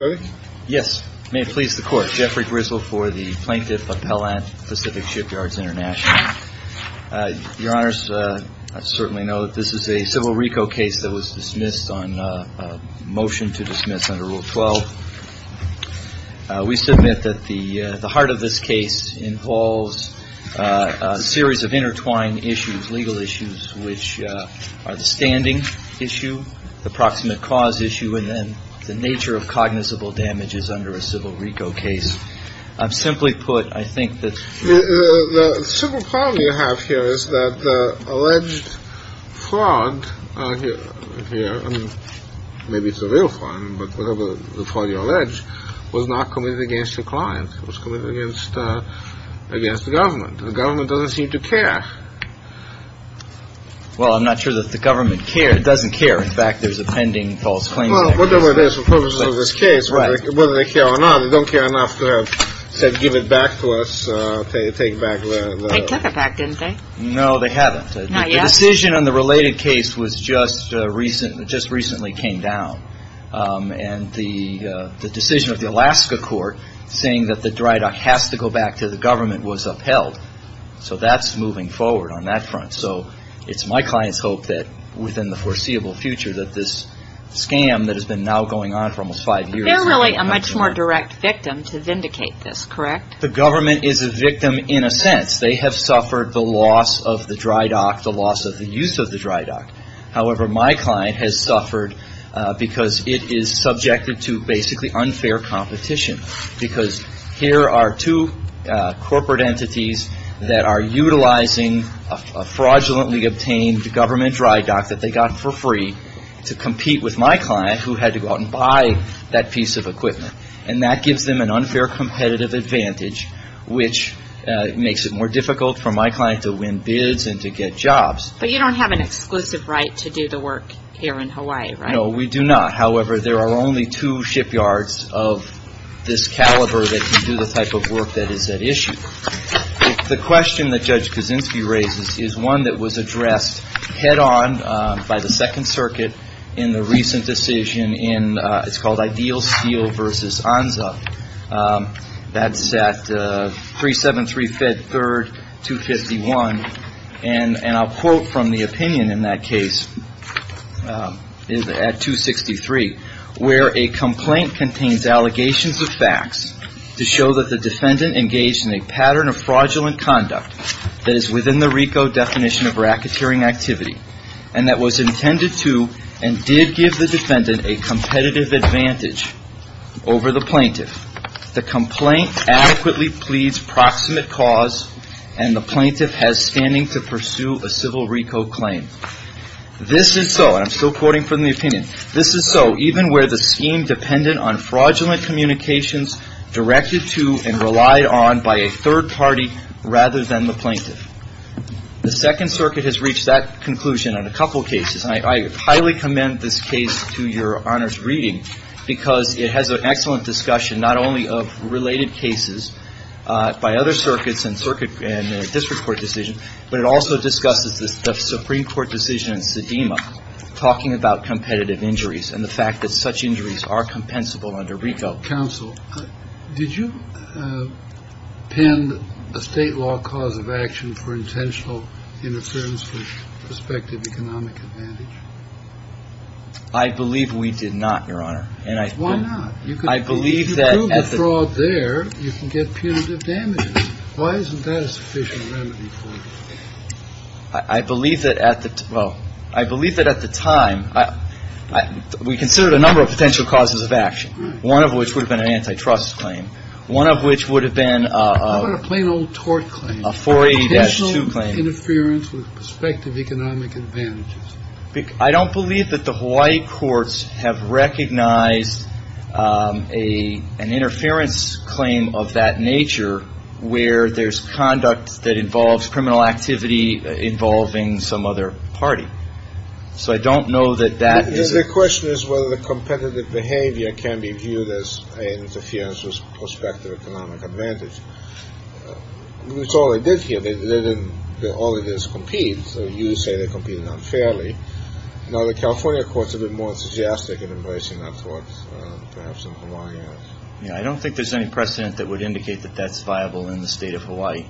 May it please the Court, Jeffrey Grizzle for the Plaintiff Appellant, Pacific Shipyards International. Your Honors, I certainly know that this is a civil RICO case that was dismissed on motion to dismiss under Rule 12. We submit that the heart of this case involves a series of intertwined issues, legal issues, which are the standing issue, the proximate cause issue, and then the nature of cognizable damages under a civil RICO case. I've simply put, I think that... The simple problem you have here is that the alleged fraud here, maybe it's a real fraud, but whatever the fraud you allege, was not committed against your client. It was committed against the government. The government doesn't seem to care. Well, I'm not sure that the government care. It doesn't care. In fact, there's a pending false claim there. Well, whatever the purpose of this case, whether they care or not, they don't care enough to give it back to us, to take back the... They took it back, didn't they? No, they haven't. Not yet? The decision on the related case just recently came down. And the decision of the Alaska Court saying that the dry dock has to go back to the government was upheld. So that's moving forward on that front. So it's my client's hope that within the foreseeable future that this scam that has been now going on for almost five years... They're really a much more direct victim to vindicate this, correct? The government is a victim in a sense. They have suffered the loss of the dry dock, the loss of the use of the dry dock. However, my client has suffered because it is subjected to basically unfair competition. Because here are two corporate entities that are utilizing a fraudulently obtained government dry dock that they got for free to compete with my client who had to go out and buy that piece of equipment. And that gives them an unfair competitive advantage, which makes it more difficult for my client to win bids and to get jobs. But you don't have an exclusive right to do the work here in Hawaii, right? No, we do not. However, there are only two shipyards of this caliber that can do the type of work that is at issue. The question that Judge Kaczynski raises is one that was addressed head on by the Second Circuit in the recent decision in, it's called Ideal Steel v. Anza. That's at 373 Fed 3rd 251. And I'll quote from the opinion in that case at 263, where a complaint contains allegations of facts to show that the defendant engaged in a pattern of fraudulent conduct that is within the RICO definition of racketeering activity and that was intended to and did give the defendant a competitive advantage over the plaintiff. The complaint adequately pleads proximate cause and the plaintiff has standing to pursue a civil RICO claim. This is so, and I'm still quoting from the opinion, this is so even where the scheme dependent on fraudulent communications directed to and relied on by a third party rather than the plaintiff. The Second Circuit has reached that conclusion on a couple of cases. And I highly commend this case to your honor's reading because it has an excellent discussion not only of But it also discusses the Supreme Court decision in Sedema talking about competitive injuries and the fact that such injuries are compensable under RICO. Counsel, did you pin a state law cause of action for intentional interference with prospective economic advantage? I believe we did not, your honor. Why not? If you prove the fraud there, you can get punitive damages. Why isn't that a sufficient remedy for it? I believe that at the, well, I believe that at the time, we considered a number of potential causes of action. One of which would have been an antitrust claim. One of which would have been a How about a plain old tort claim? A 4A-2 claim. A potential interference with prospective economic advantages. I don't believe that the Hawaii courts have recognized an interference claim of that nature where there's conduct that involves criminal activity involving some other party. So I don't know that that is The question is whether the competitive behavior can be viewed as an interference with prospective economic advantage. That's all they did here. They didn't, all they did is compete. So you say they competed unfairly. Now, the California courts are a bit more suggestive in embracing that thought, perhaps in Hawaii. I don't think there's any precedent that would indicate that that's viable in the state of Hawaii.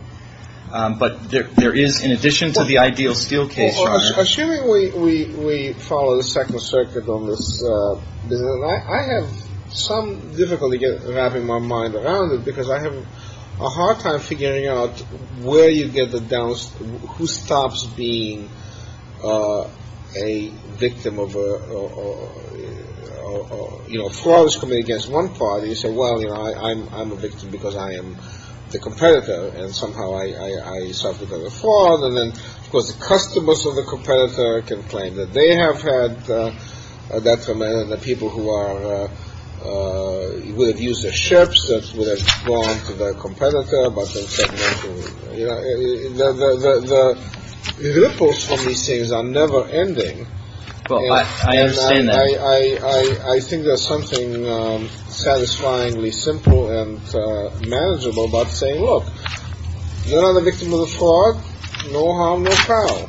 But there is, in addition to the ideal steel case, Well, assuming we follow the second circuit on this, I have some difficulty wrapping my mind around it because I have a hard time figuring out where you get the down, who stops being a victim of a, you know, fraud is committed against one party. So, well, you know, I'm a victim because I am the competitor and somehow I suffered a fraud. And then, of course, the customers of the competitor can claim that they have had a detriment and the people who would have used the ships that would have gone to the competitor. But the ripples from these things are never ending. Well, I understand that. I think there's something satisfyingly simple and manageable about saying, look, you're not a victim of the fraud. No harm, no foul.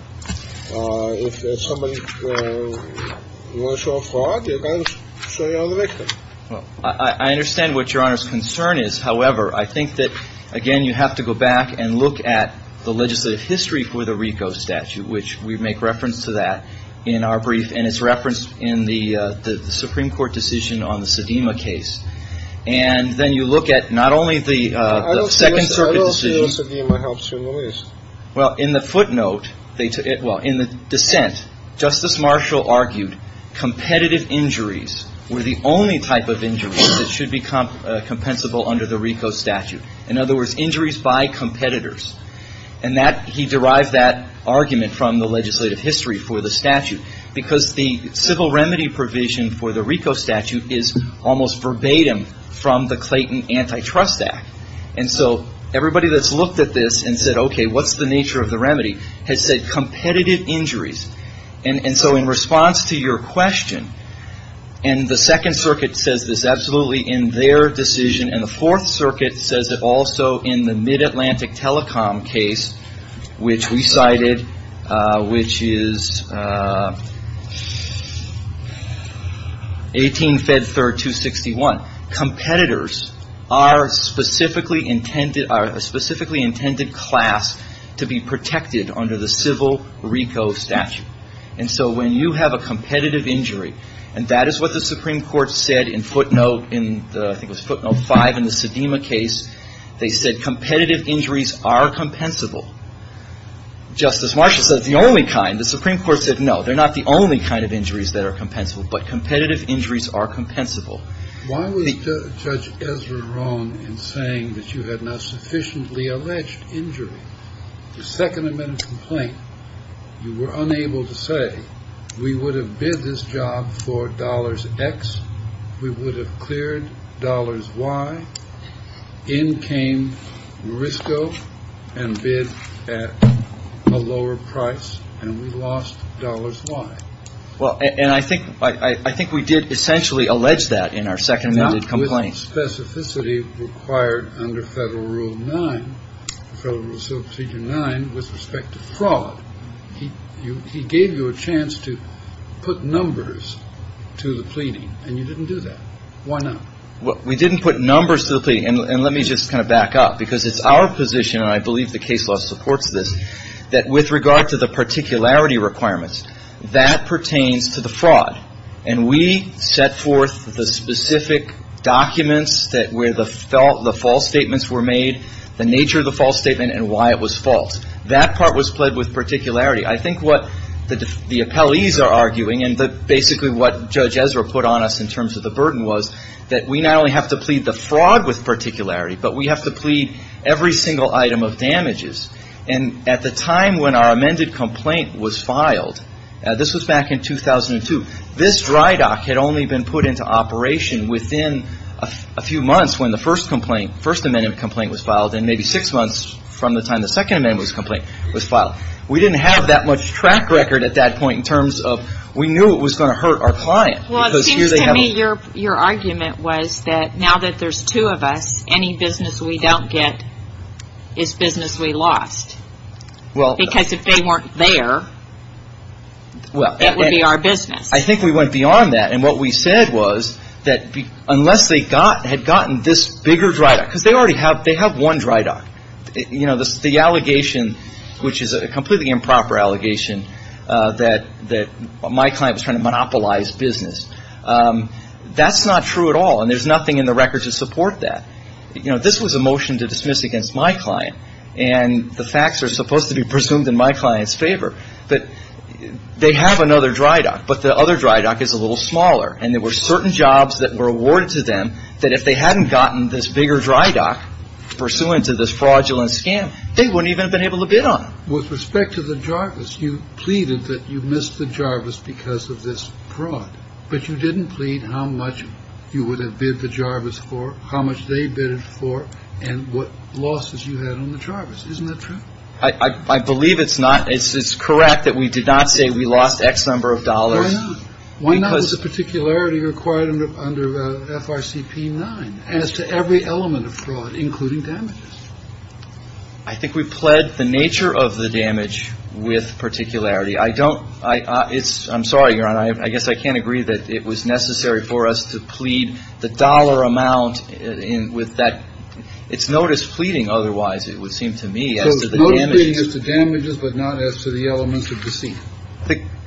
If somebody wants to show a fraud, you can't show you're the victim. I understand what Your Honor's concern is. However, I think that, again, you have to go back and look at the legislative history for the RICO statute, which we make reference to that in our brief. And it's referenced in the Supreme Court decision on the Sedema case. And then you look at not only the second circuit decision. Well, in the footnote, well, in the dissent, Justice Marshall argued competitive injuries were the only type of injuries that should be compensable under the RICO statute. In other words, injuries by competitors. And he derived that argument from the legislative history for the statute because the civil remedy provision for the RICO looked at this and said, OK, what's the nature of the remedy? It said competitive injuries. And so in response to your question, and the second circuit says this absolutely in their decision, and the fourth circuit says it also in the Mid-Atlantic telecom case, which we cited, which is 18 Fed 3rd 261. Competitors are a specifically intended class to be protected under the civil RICO statute. And so when you have a competitive injury, and that is what the Supreme Court said in footnote in, I think it was footnote 5 in the Sedema case. They said competitive injuries are compensable. Justice Marshall said it's the only kind. The Supreme Court said, no, they're not the only kind of injuries that are compensable, but competitive injuries are compensable. Why was Judge Ezra wrong in saying that you had not sufficiently alleged injury? The second amendment complaint, you were unable to say we would have bid this job for dollars X. We would have cleared dollars Y. In came RISCO and bid at a lower price and we lost dollars Y. Well, and I think I think we did essentially allege that in our second amendment complaint specificity required under Federal Rule 9. Federal Rule 9 with respect to fraud. He gave you a chance to put numbers to the pleading and you didn't do that. Why not? Well, we didn't put numbers simply. And let me just kind of back up because it's our position. And I believe the case law supports this, that with regard to the particularity requirements, that pertains to the fraud. And we set forth the specific documents that where the false statements were made, the nature of the false statement and why it was false. That part was pled with particularity. I think what the appellees are arguing and basically what Judge Ezra put on us in terms of the burden was that we not only have to plead the fraud with particularity, but we have to plead every single item of damages. And at the time when our amended complaint was filed, this was back in 2002, this dry dock had only been put into operation within a few months when the first complaint, first amendment complaint was filed and maybe six months from the time the second amendment complaint was filed. We didn't have that much track record at that point in terms of we knew it was going to hurt our client. Well, it seems to me your argument was that now that there's two of us, any business we don't get is business we lost. Because if they weren't there, that would be our business. I think we went beyond that. And what we said was that unless they had gotten this bigger dry dock, because they already have one dry dock. You know, the allegation, which is a completely improper allegation, that my client was trying to monopolize business, that's not true at all. And there's nothing in the record to support that. You know, this was a motion to dismiss against my client. And the facts are supposed to be presumed in my client's favor that they have another dry dock, but the other dry dock is a little smaller. And there were certain jobs that were awarded to them that if they hadn't gotten this bigger dry dock pursuant to this fraudulent scam, they wouldn't even have been able to bid on. With respect to the Jarvis, you pleaded that you missed the Jarvis because of this fraud. But you didn't plead how much you would have bid the Jarvis for, how much they bid for and what losses you had on the Jarvis. Isn't that true? I believe it's not. It's correct that we did not say we lost X number of dollars. Why not? Why not with the particularity required under FRCP 9 as to every element of fraud, including damages? I think we pled the nature of the damage with particularity. I don't I it's I'm sorry, Your Honor, I guess I can't agree that it was necessary for us to plead the dollar amount with that. It's notice pleading. Otherwise, it would seem to me as to the damages, the damages, but not as to the elements of deceit.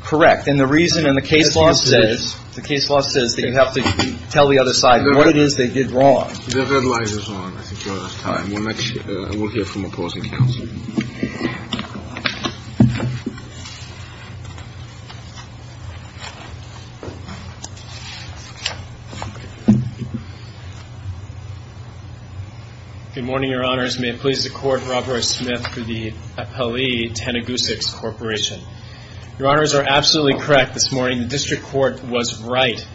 Correct. And the reason and the case law says the case law says that you have to tell the other side what it is they did wrong. The deadline is on time. We'll hear from opposing counsel. Good morning, Your Honors. May it please the court. Robert Smith for the appellee. Tanagoosics Corporation. Your honors are absolutely correct. This morning, the district court was right.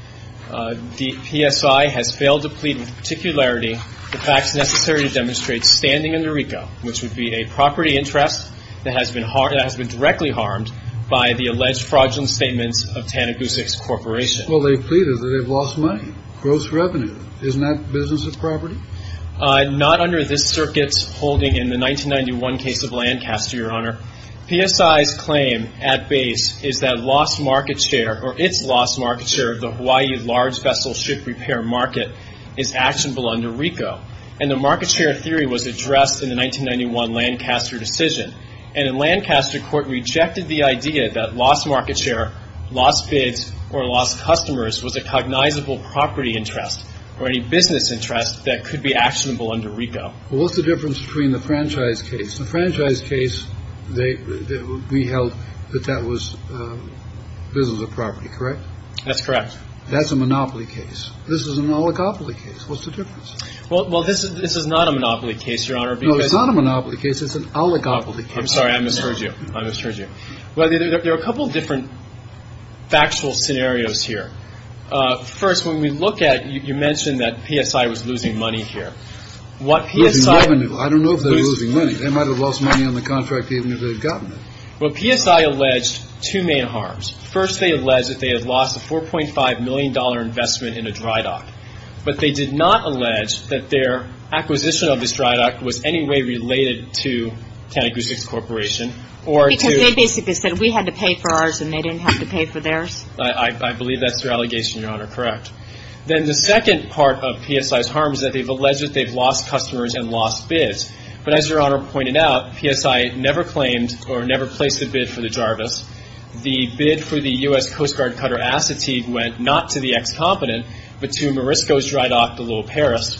The PSI has failed to plead with particularity. The facts necessary to demonstrate standing in the RICO, which would be a property interest that has been hard, that has been directly harmed by the alleged fraudulent statements of Tanagoosics Corporation. Well, they pleaded that they've lost money, gross revenue. Isn't that business as property? Not under this circuit's holding in the 1991 case of Lancaster, Your Honor. PSI's claim at base is that lost market share or its lost market share of the Hawaii large vessel ship repair market is actionable under RICO. And the market share theory was addressed in the 1991 Lancaster decision. And in Lancaster, court rejected the idea that lost market share, lost bids, or lost customers was a cognizable property interest or any business interest that could be actionable under RICO. What's the difference between the franchise case? The franchise case, we held that that was business as property, correct? That's correct. That's a monopoly case. This is an oligopoly case. What's the difference? Well, this is not a monopoly case, Your Honor. No, it's not a monopoly case. It's an oligopoly case. I'm sorry. I misheard you. I misheard you. Well, there are a couple of different factual scenarios here. First, when we look at, you mentioned that PSI was losing money here. Losing revenue. I don't know if they're losing money. They might have lost money on the contract even if they'd gotten it. Well, PSI alleged two main harms. First, they alleged that they had lost a $4.5 million investment in a dry dock. But they did not allege that their acquisition of this dry dock was any way related to Tanegushi Corporation or to. Because they basically said we had to pay for ours and they didn't have to pay for theirs. I believe that's their allegation, Your Honor. Correct. Then the second part of PSI's harm is that they've alleged that they've lost customers and lost bids. But as Your Honor pointed out, PSI never claimed or never placed a bid for the Jarvis. The bid for the U.S. Coast Guard cutter Assateague went not to the ex-competent, but to Morisco's dry dock, the Little Paris.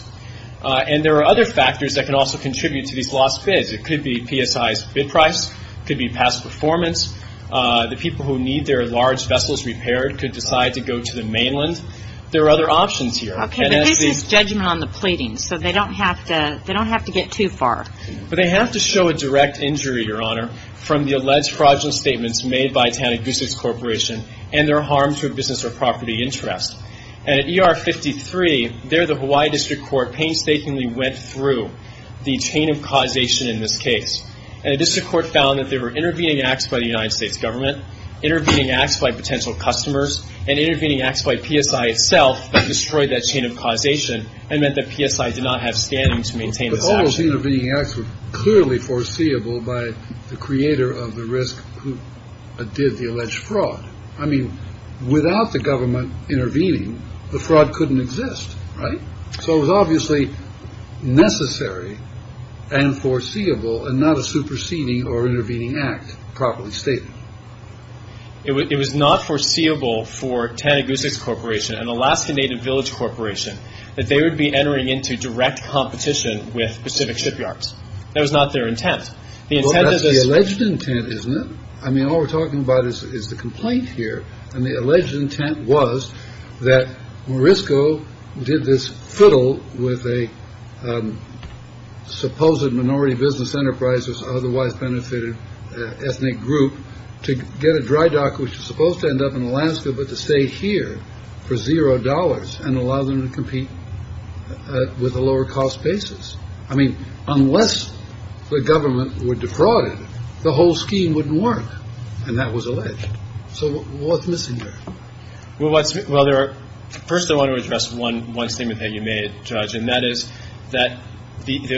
And there are other factors that can also contribute to these lost bids. It could be PSI's bid price. It could be past performance. The people who need their large vessels repaired could decide to go to the mainland. There are other options here. Okay, but this is judgment on the pleading, so they don't have to get too far. But they have to show a direct injury, Your Honor, from the alleged fraudulent statements made by Tanegushi Corporation and their harm to a business or property interest. And at ER 53, there the Hawaii District Court painstakingly went through the chain of causation in this case. And the District Court found that they were intervening acts by the United States government, intervening acts by potential customers, and intervening acts by PSI itself that destroyed that chain of causation and meant that PSI did not have standing to maintain this action. But all those intervening acts were clearly foreseeable by the creator of the risk who did the alleged fraud. I mean, without the government intervening, the fraud couldn't exist. Right. So it was obviously necessary and foreseeable and not a superseding or intervening act. Properly stated, it was not foreseeable for Tanegushi Corporation and Alaskan Native Village Corporation that they would be entering into direct competition with Pacific Shipyards. That was not their intent. The alleged intent is not. I mean, all we're talking about is the complaint here. And the alleged intent was that Morisco did this fiddle with a supposed minority business enterprises, otherwise benefited ethnic group to get a dry dock, which is supposed to end up in Alaska, but to stay here for zero dollars and allow them to compete with a lower cost basis. I mean, unless the government were defrauded, the whole scheme wouldn't work. And that was alleged. So what's missing here? Well, what's. Well, there are. First, I want to address one one statement that you made, Judge, and that is that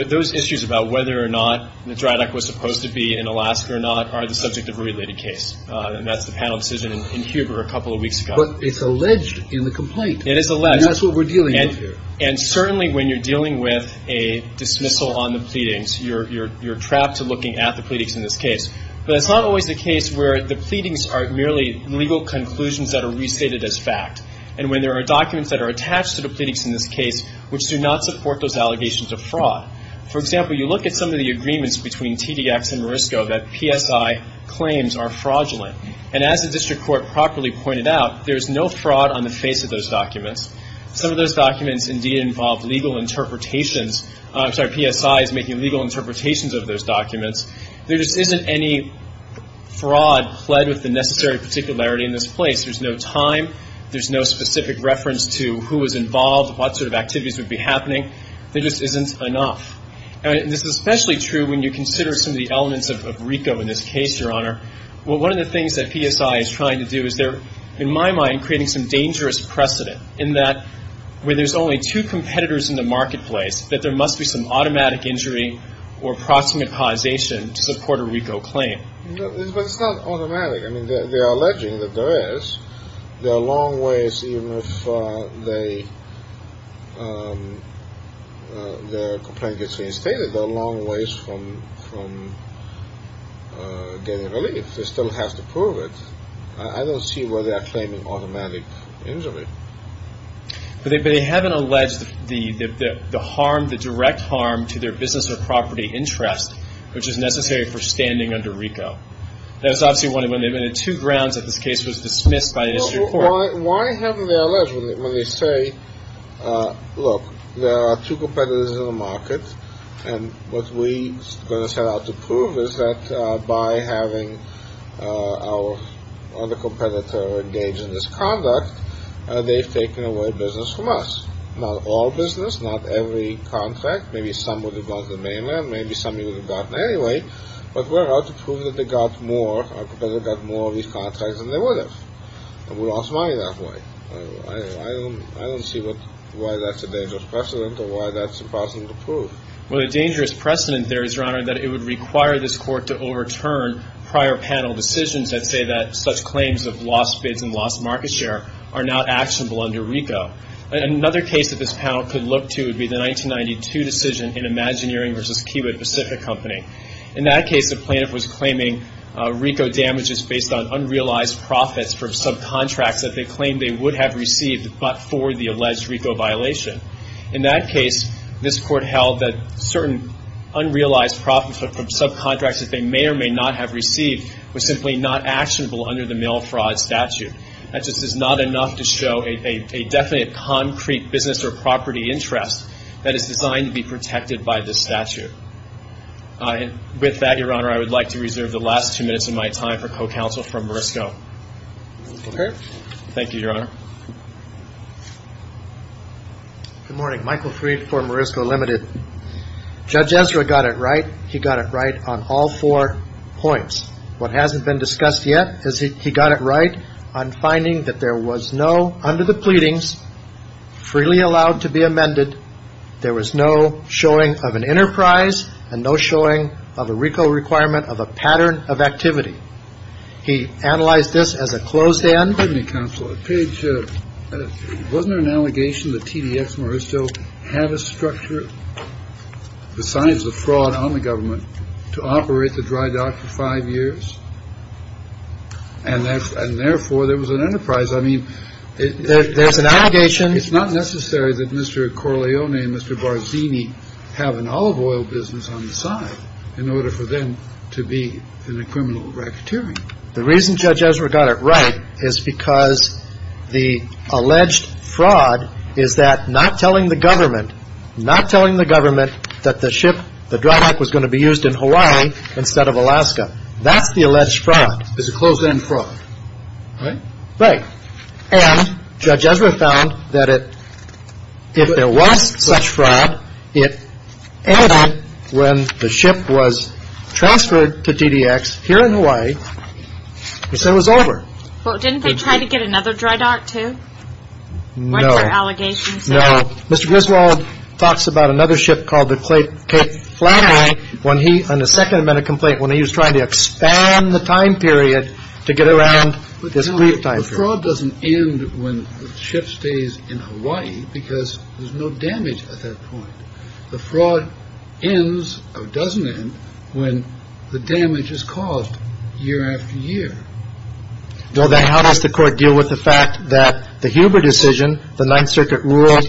those issues about whether or not the dry dock was supposed to be in Alaska or not, are the subject of a related case. And that's the panel decision in Huber a couple of weeks ago. But it's alleged in the complaint. It is alleged. That's what we're dealing with here. And certainly when you're dealing with a dismissal on the pleadings, you're you're you're trapped to looking at the pleadings in this case. But it's not always the case where the pleadings are merely legal conclusions that are restated as fact. And when there are documents that are attached to the pleadings in this case, which do not support those allegations of fraud. For example, you look at some of the agreements between TDX and Morisco that PSI claims are fraudulent. And as the district court properly pointed out, there is no fraud on the face of those documents. Some of those documents indeed involve legal interpretations. I'm sorry, PSI is making legal interpretations of those documents. There just isn't any fraud pled with the necessary particularity in this place. There's no time. There's no specific reference to who was involved, what sort of activities would be happening. There just isn't enough. And this is especially true when you consider some of the elements of RICO in this case, Your Honor. Well, one of the things that PSI is trying to do is they're, in my mind, creating some dangerous precedent in that where there's only two competitors in the marketplace, that there must be some automatic injury or proximate causation to support a RICO claim. But it's not automatic. I mean, they are alleging that there is. There are long ways, even if the complaint gets reinstated, there are long ways from getting relief. They still have to prove it. I don't see where they're claiming automatic injury. But they haven't alleged the harm, the direct harm to their business or property interest, which is necessary for standing under RICO. That's obviously one of the two grounds that this case was dismissed by the district court. Why haven't they alleged when they say, look, there are two competitors in the market. And what we set out to prove is that by having our other competitor engage in this conduct, they've taken away business from us. Not all business, not every contract. Maybe some would have gone to the mainland. Maybe some of you would have gotten anyway. But we're out to prove that they got more, our competitor got more of these contracts than they would have. We lost money that way. I don't see why that's a dangerous precedent or why that's impossible to prove. Well, the dangerous precedent there is, Your Honor, that it would require this court to overturn prior panel decisions that say that such claims of lost bids and lost market share are now actionable under RICO. Another case that this panel could look to would be the 1992 decision in Imagineering versus Keywood Pacific Company. In that case, the plaintiff was claiming RICO damages based on unrealized profits from subcontracts that they claimed they would have received but for the alleged RICO violation. In that case, this court held that certain unrealized profits from subcontracts that they may or may not have received was simply not actionable under the mail fraud statute. That just is not enough to show a definite concrete business or property interest that is designed to be protected by this statute. With that, Your Honor, I would like to reserve the last two minutes of my time for co-counsel from Morisco. Okay. Thank you, Your Honor. Good morning. Michael Freed for Morisco Limited. Judge Ezra got it right. He got it right on all four points. What hasn't been discussed yet is he got it right on finding that there was no, under the pleadings, freely allowed to be amended. There was no showing of an enterprise and no showing of a RICO requirement of a pattern of activity. He analyzed this as a closed end. Let me counsel a page. Wasn't an allegation that TDS Morisco have a structure besides the fraud on the government to operate the dry dock for five years? And that's and therefore there was an enterprise. I mean, there's an allegation. It's not necessary that Mr. Corleone and Mr. Barzini have an olive oil business on the side in order for them to be in a criminal racketeering. The reason Judge Ezra got it right is because the alleged fraud is that not telling the government, not telling the government that the ship, the dry dock was going to be used in Hawaii instead of Alaska. That's the alleged fraud. It's a closed end fraud, right? Right. And Judge Ezra found that it was such fraud. It ended when the ship was transferred to TDX here in Hawaii. So it was over. Well, didn't they try to get another dry dock to no allegations? No. Mr. Griswold talks about another ship called the plate. Flattery when he on the second minute complaint, when he was trying to expand the time period to get around this brief time. The fraud doesn't end when the ship stays in Hawaii because there's no damage at that point. The fraud ends or doesn't end when the damage is caused year after year. So then how does the court deal with the fact that the Huber decision, the Ninth Circuit ruled?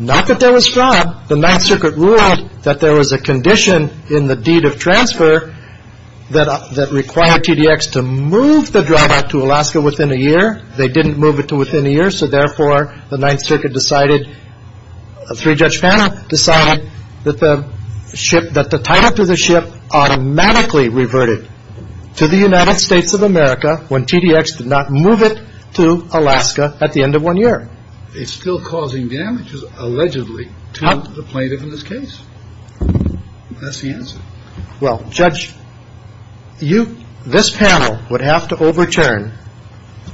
Not that there was fraud. The Ninth Circuit ruled that there was a condition in the deed of transfer that required TDX to move the dry dock to Alaska within a year. They didn't move it to within a year. So therefore, the Ninth Circuit decided a three judge panel decided that the ship, that the title to the ship automatically reverted to the United States of America when TDX did not move it to Alaska at the end of one year. It's still causing damages allegedly to the plaintiff in this case. That's the answer. Well, Judge, you, this panel would have to overturn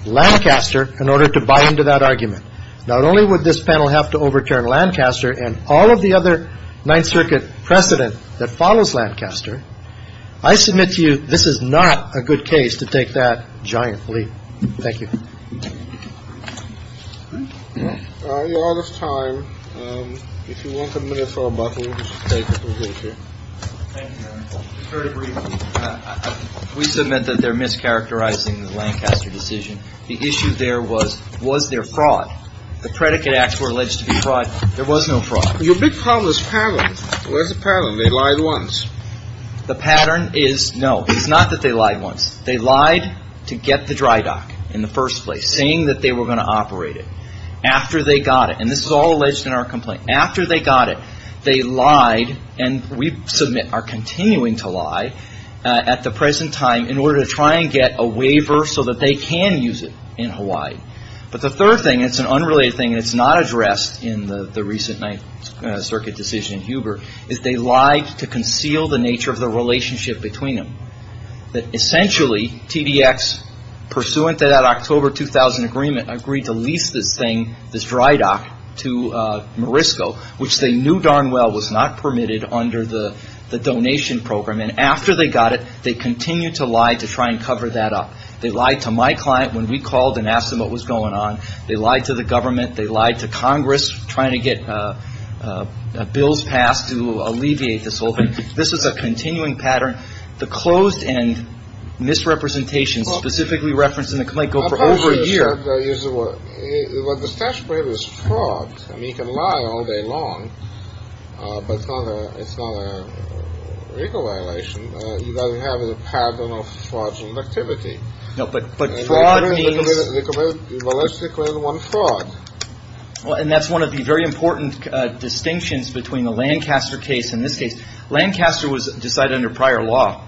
Lancaster in order to buy into that argument. Not only would this panel have to overturn Lancaster and all of the other Ninth Circuit precedent that follows Lancaster, I submit to you this is not a good case to take that giant leap. Thank you. A lot of time. If you want a minute for a buck, we'll just take it. We submit that they're mischaracterizing the Lancaster decision. The issue there was, was there fraud? The predicate acts were alleged to be fraud. There was no fraud. Your big problem is pattern. There's a pattern. They lied once. The pattern is no. It's not that they lied once. They lied to get the dry dock in the first place, saying that they were going to operate it. After they got it, and this is all alleged in our complaint, after they got it, they lied, and we submit are continuing to lie at the present time in order to try and get a waiver so that they can use it in Hawaii. But the third thing, it's an unrelated thing, and it's not addressed in the recent Ninth Circuit decision in Huber, is they lied to conceal the nature of the relationship between them. That essentially, TDX, pursuant to that October 2000 agreement, agreed to lease this thing, this dry dock, to Morisco, which they knew darn well was not permitted under the donation program. And after they got it, they continued to lie to try and cover that up. They lied to my client when we called and asked them what was going on. They lied to the government. They lied to Congress trying to get bills passed to alleviate this whole thing. This is a continuing pattern. The closed end misrepresentations specifically referenced in the complaint go for over a year. What the statute prohibits is fraud. I mean, you can lie all day long, but it's not a it's not a legal violation. You've got to have a pattern of fraudulent activity. No, but but fraud means. Well, let's stick with one fraud. Well, and that's one of the very important distinctions between the Lancaster case and this case. Lancaster was decided under prior law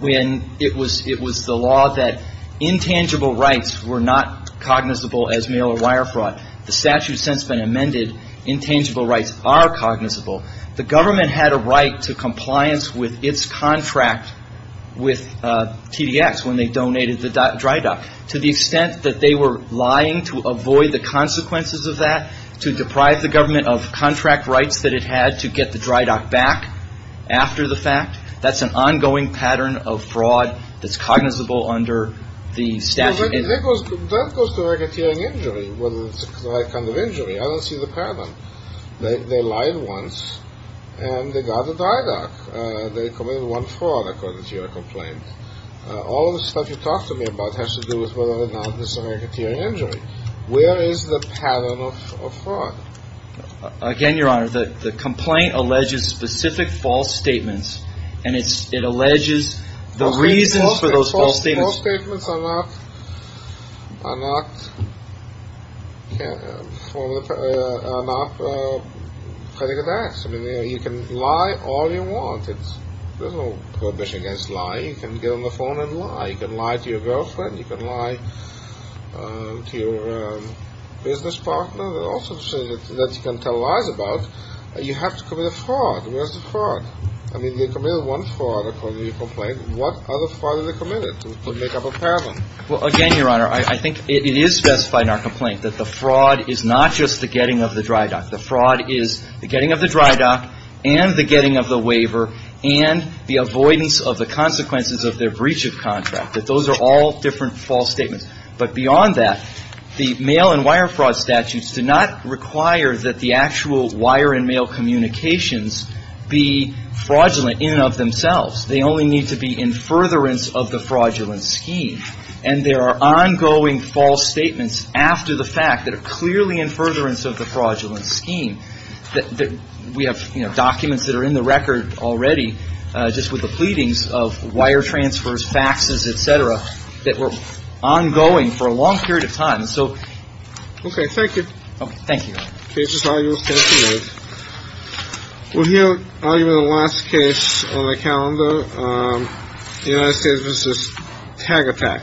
when it was it was the law that intangible rights were not cognizable as mail or wire fraud. The statute has since been amended. Intangible rights are cognizable. The government had a right to compliance with its contract with TVX when they donated the dry dock to the extent that they were lying to avoid the consequences of that, to deprive the government of contract rights that it had to get the dry dock back after the fact. That's an ongoing pattern of fraud. That's cognizable under the statute. That goes to the right kind of injury. I don't see the pattern. They lied once and they got the dry dock. They committed one fraud, according to your complaint. All of the stuff you talked to me about has to do with whether or not this is a rigged injury. Where is the pattern of fraud? Again, Your Honor, the complaint alleges specific false statements, and it alleges the reasons for those false statements. False statements are not critical facts. I mean, you can lie all you want. There's no prohibition against lying. You can get on the phone and lie. You can lie to your girlfriend. You can lie to your business partner. There are all sorts of things that you can tell lies about. You have to commit a fraud. Where's the fraud? I mean, they committed one fraud, according to your complaint. What other fraud did they commit to make up a pattern? Well, again, Your Honor, I think it is specified in our complaint that the fraud is not just the getting of the dry dock. The fraud is the getting of the dry dock and the getting of the waiver and the avoidance of the consequences of their breach of contract. Those are all different false statements. But beyond that, the mail and wire fraud statutes do not require that the actual wire and mail communications be fraudulent in and of themselves. They only need to be in furtherance of the fraudulent scheme. And there are ongoing false statements after the fact that are clearly in furtherance of the fraudulent scheme. We have documents that are in the record already just with the pleadings of wire transfers, faxes, et cetera, that were ongoing for a long period of time. So. OK, thank you. Thank you. Thank you. Well, here are the last case on the calendar. You know, this is this tag attack. Thank you.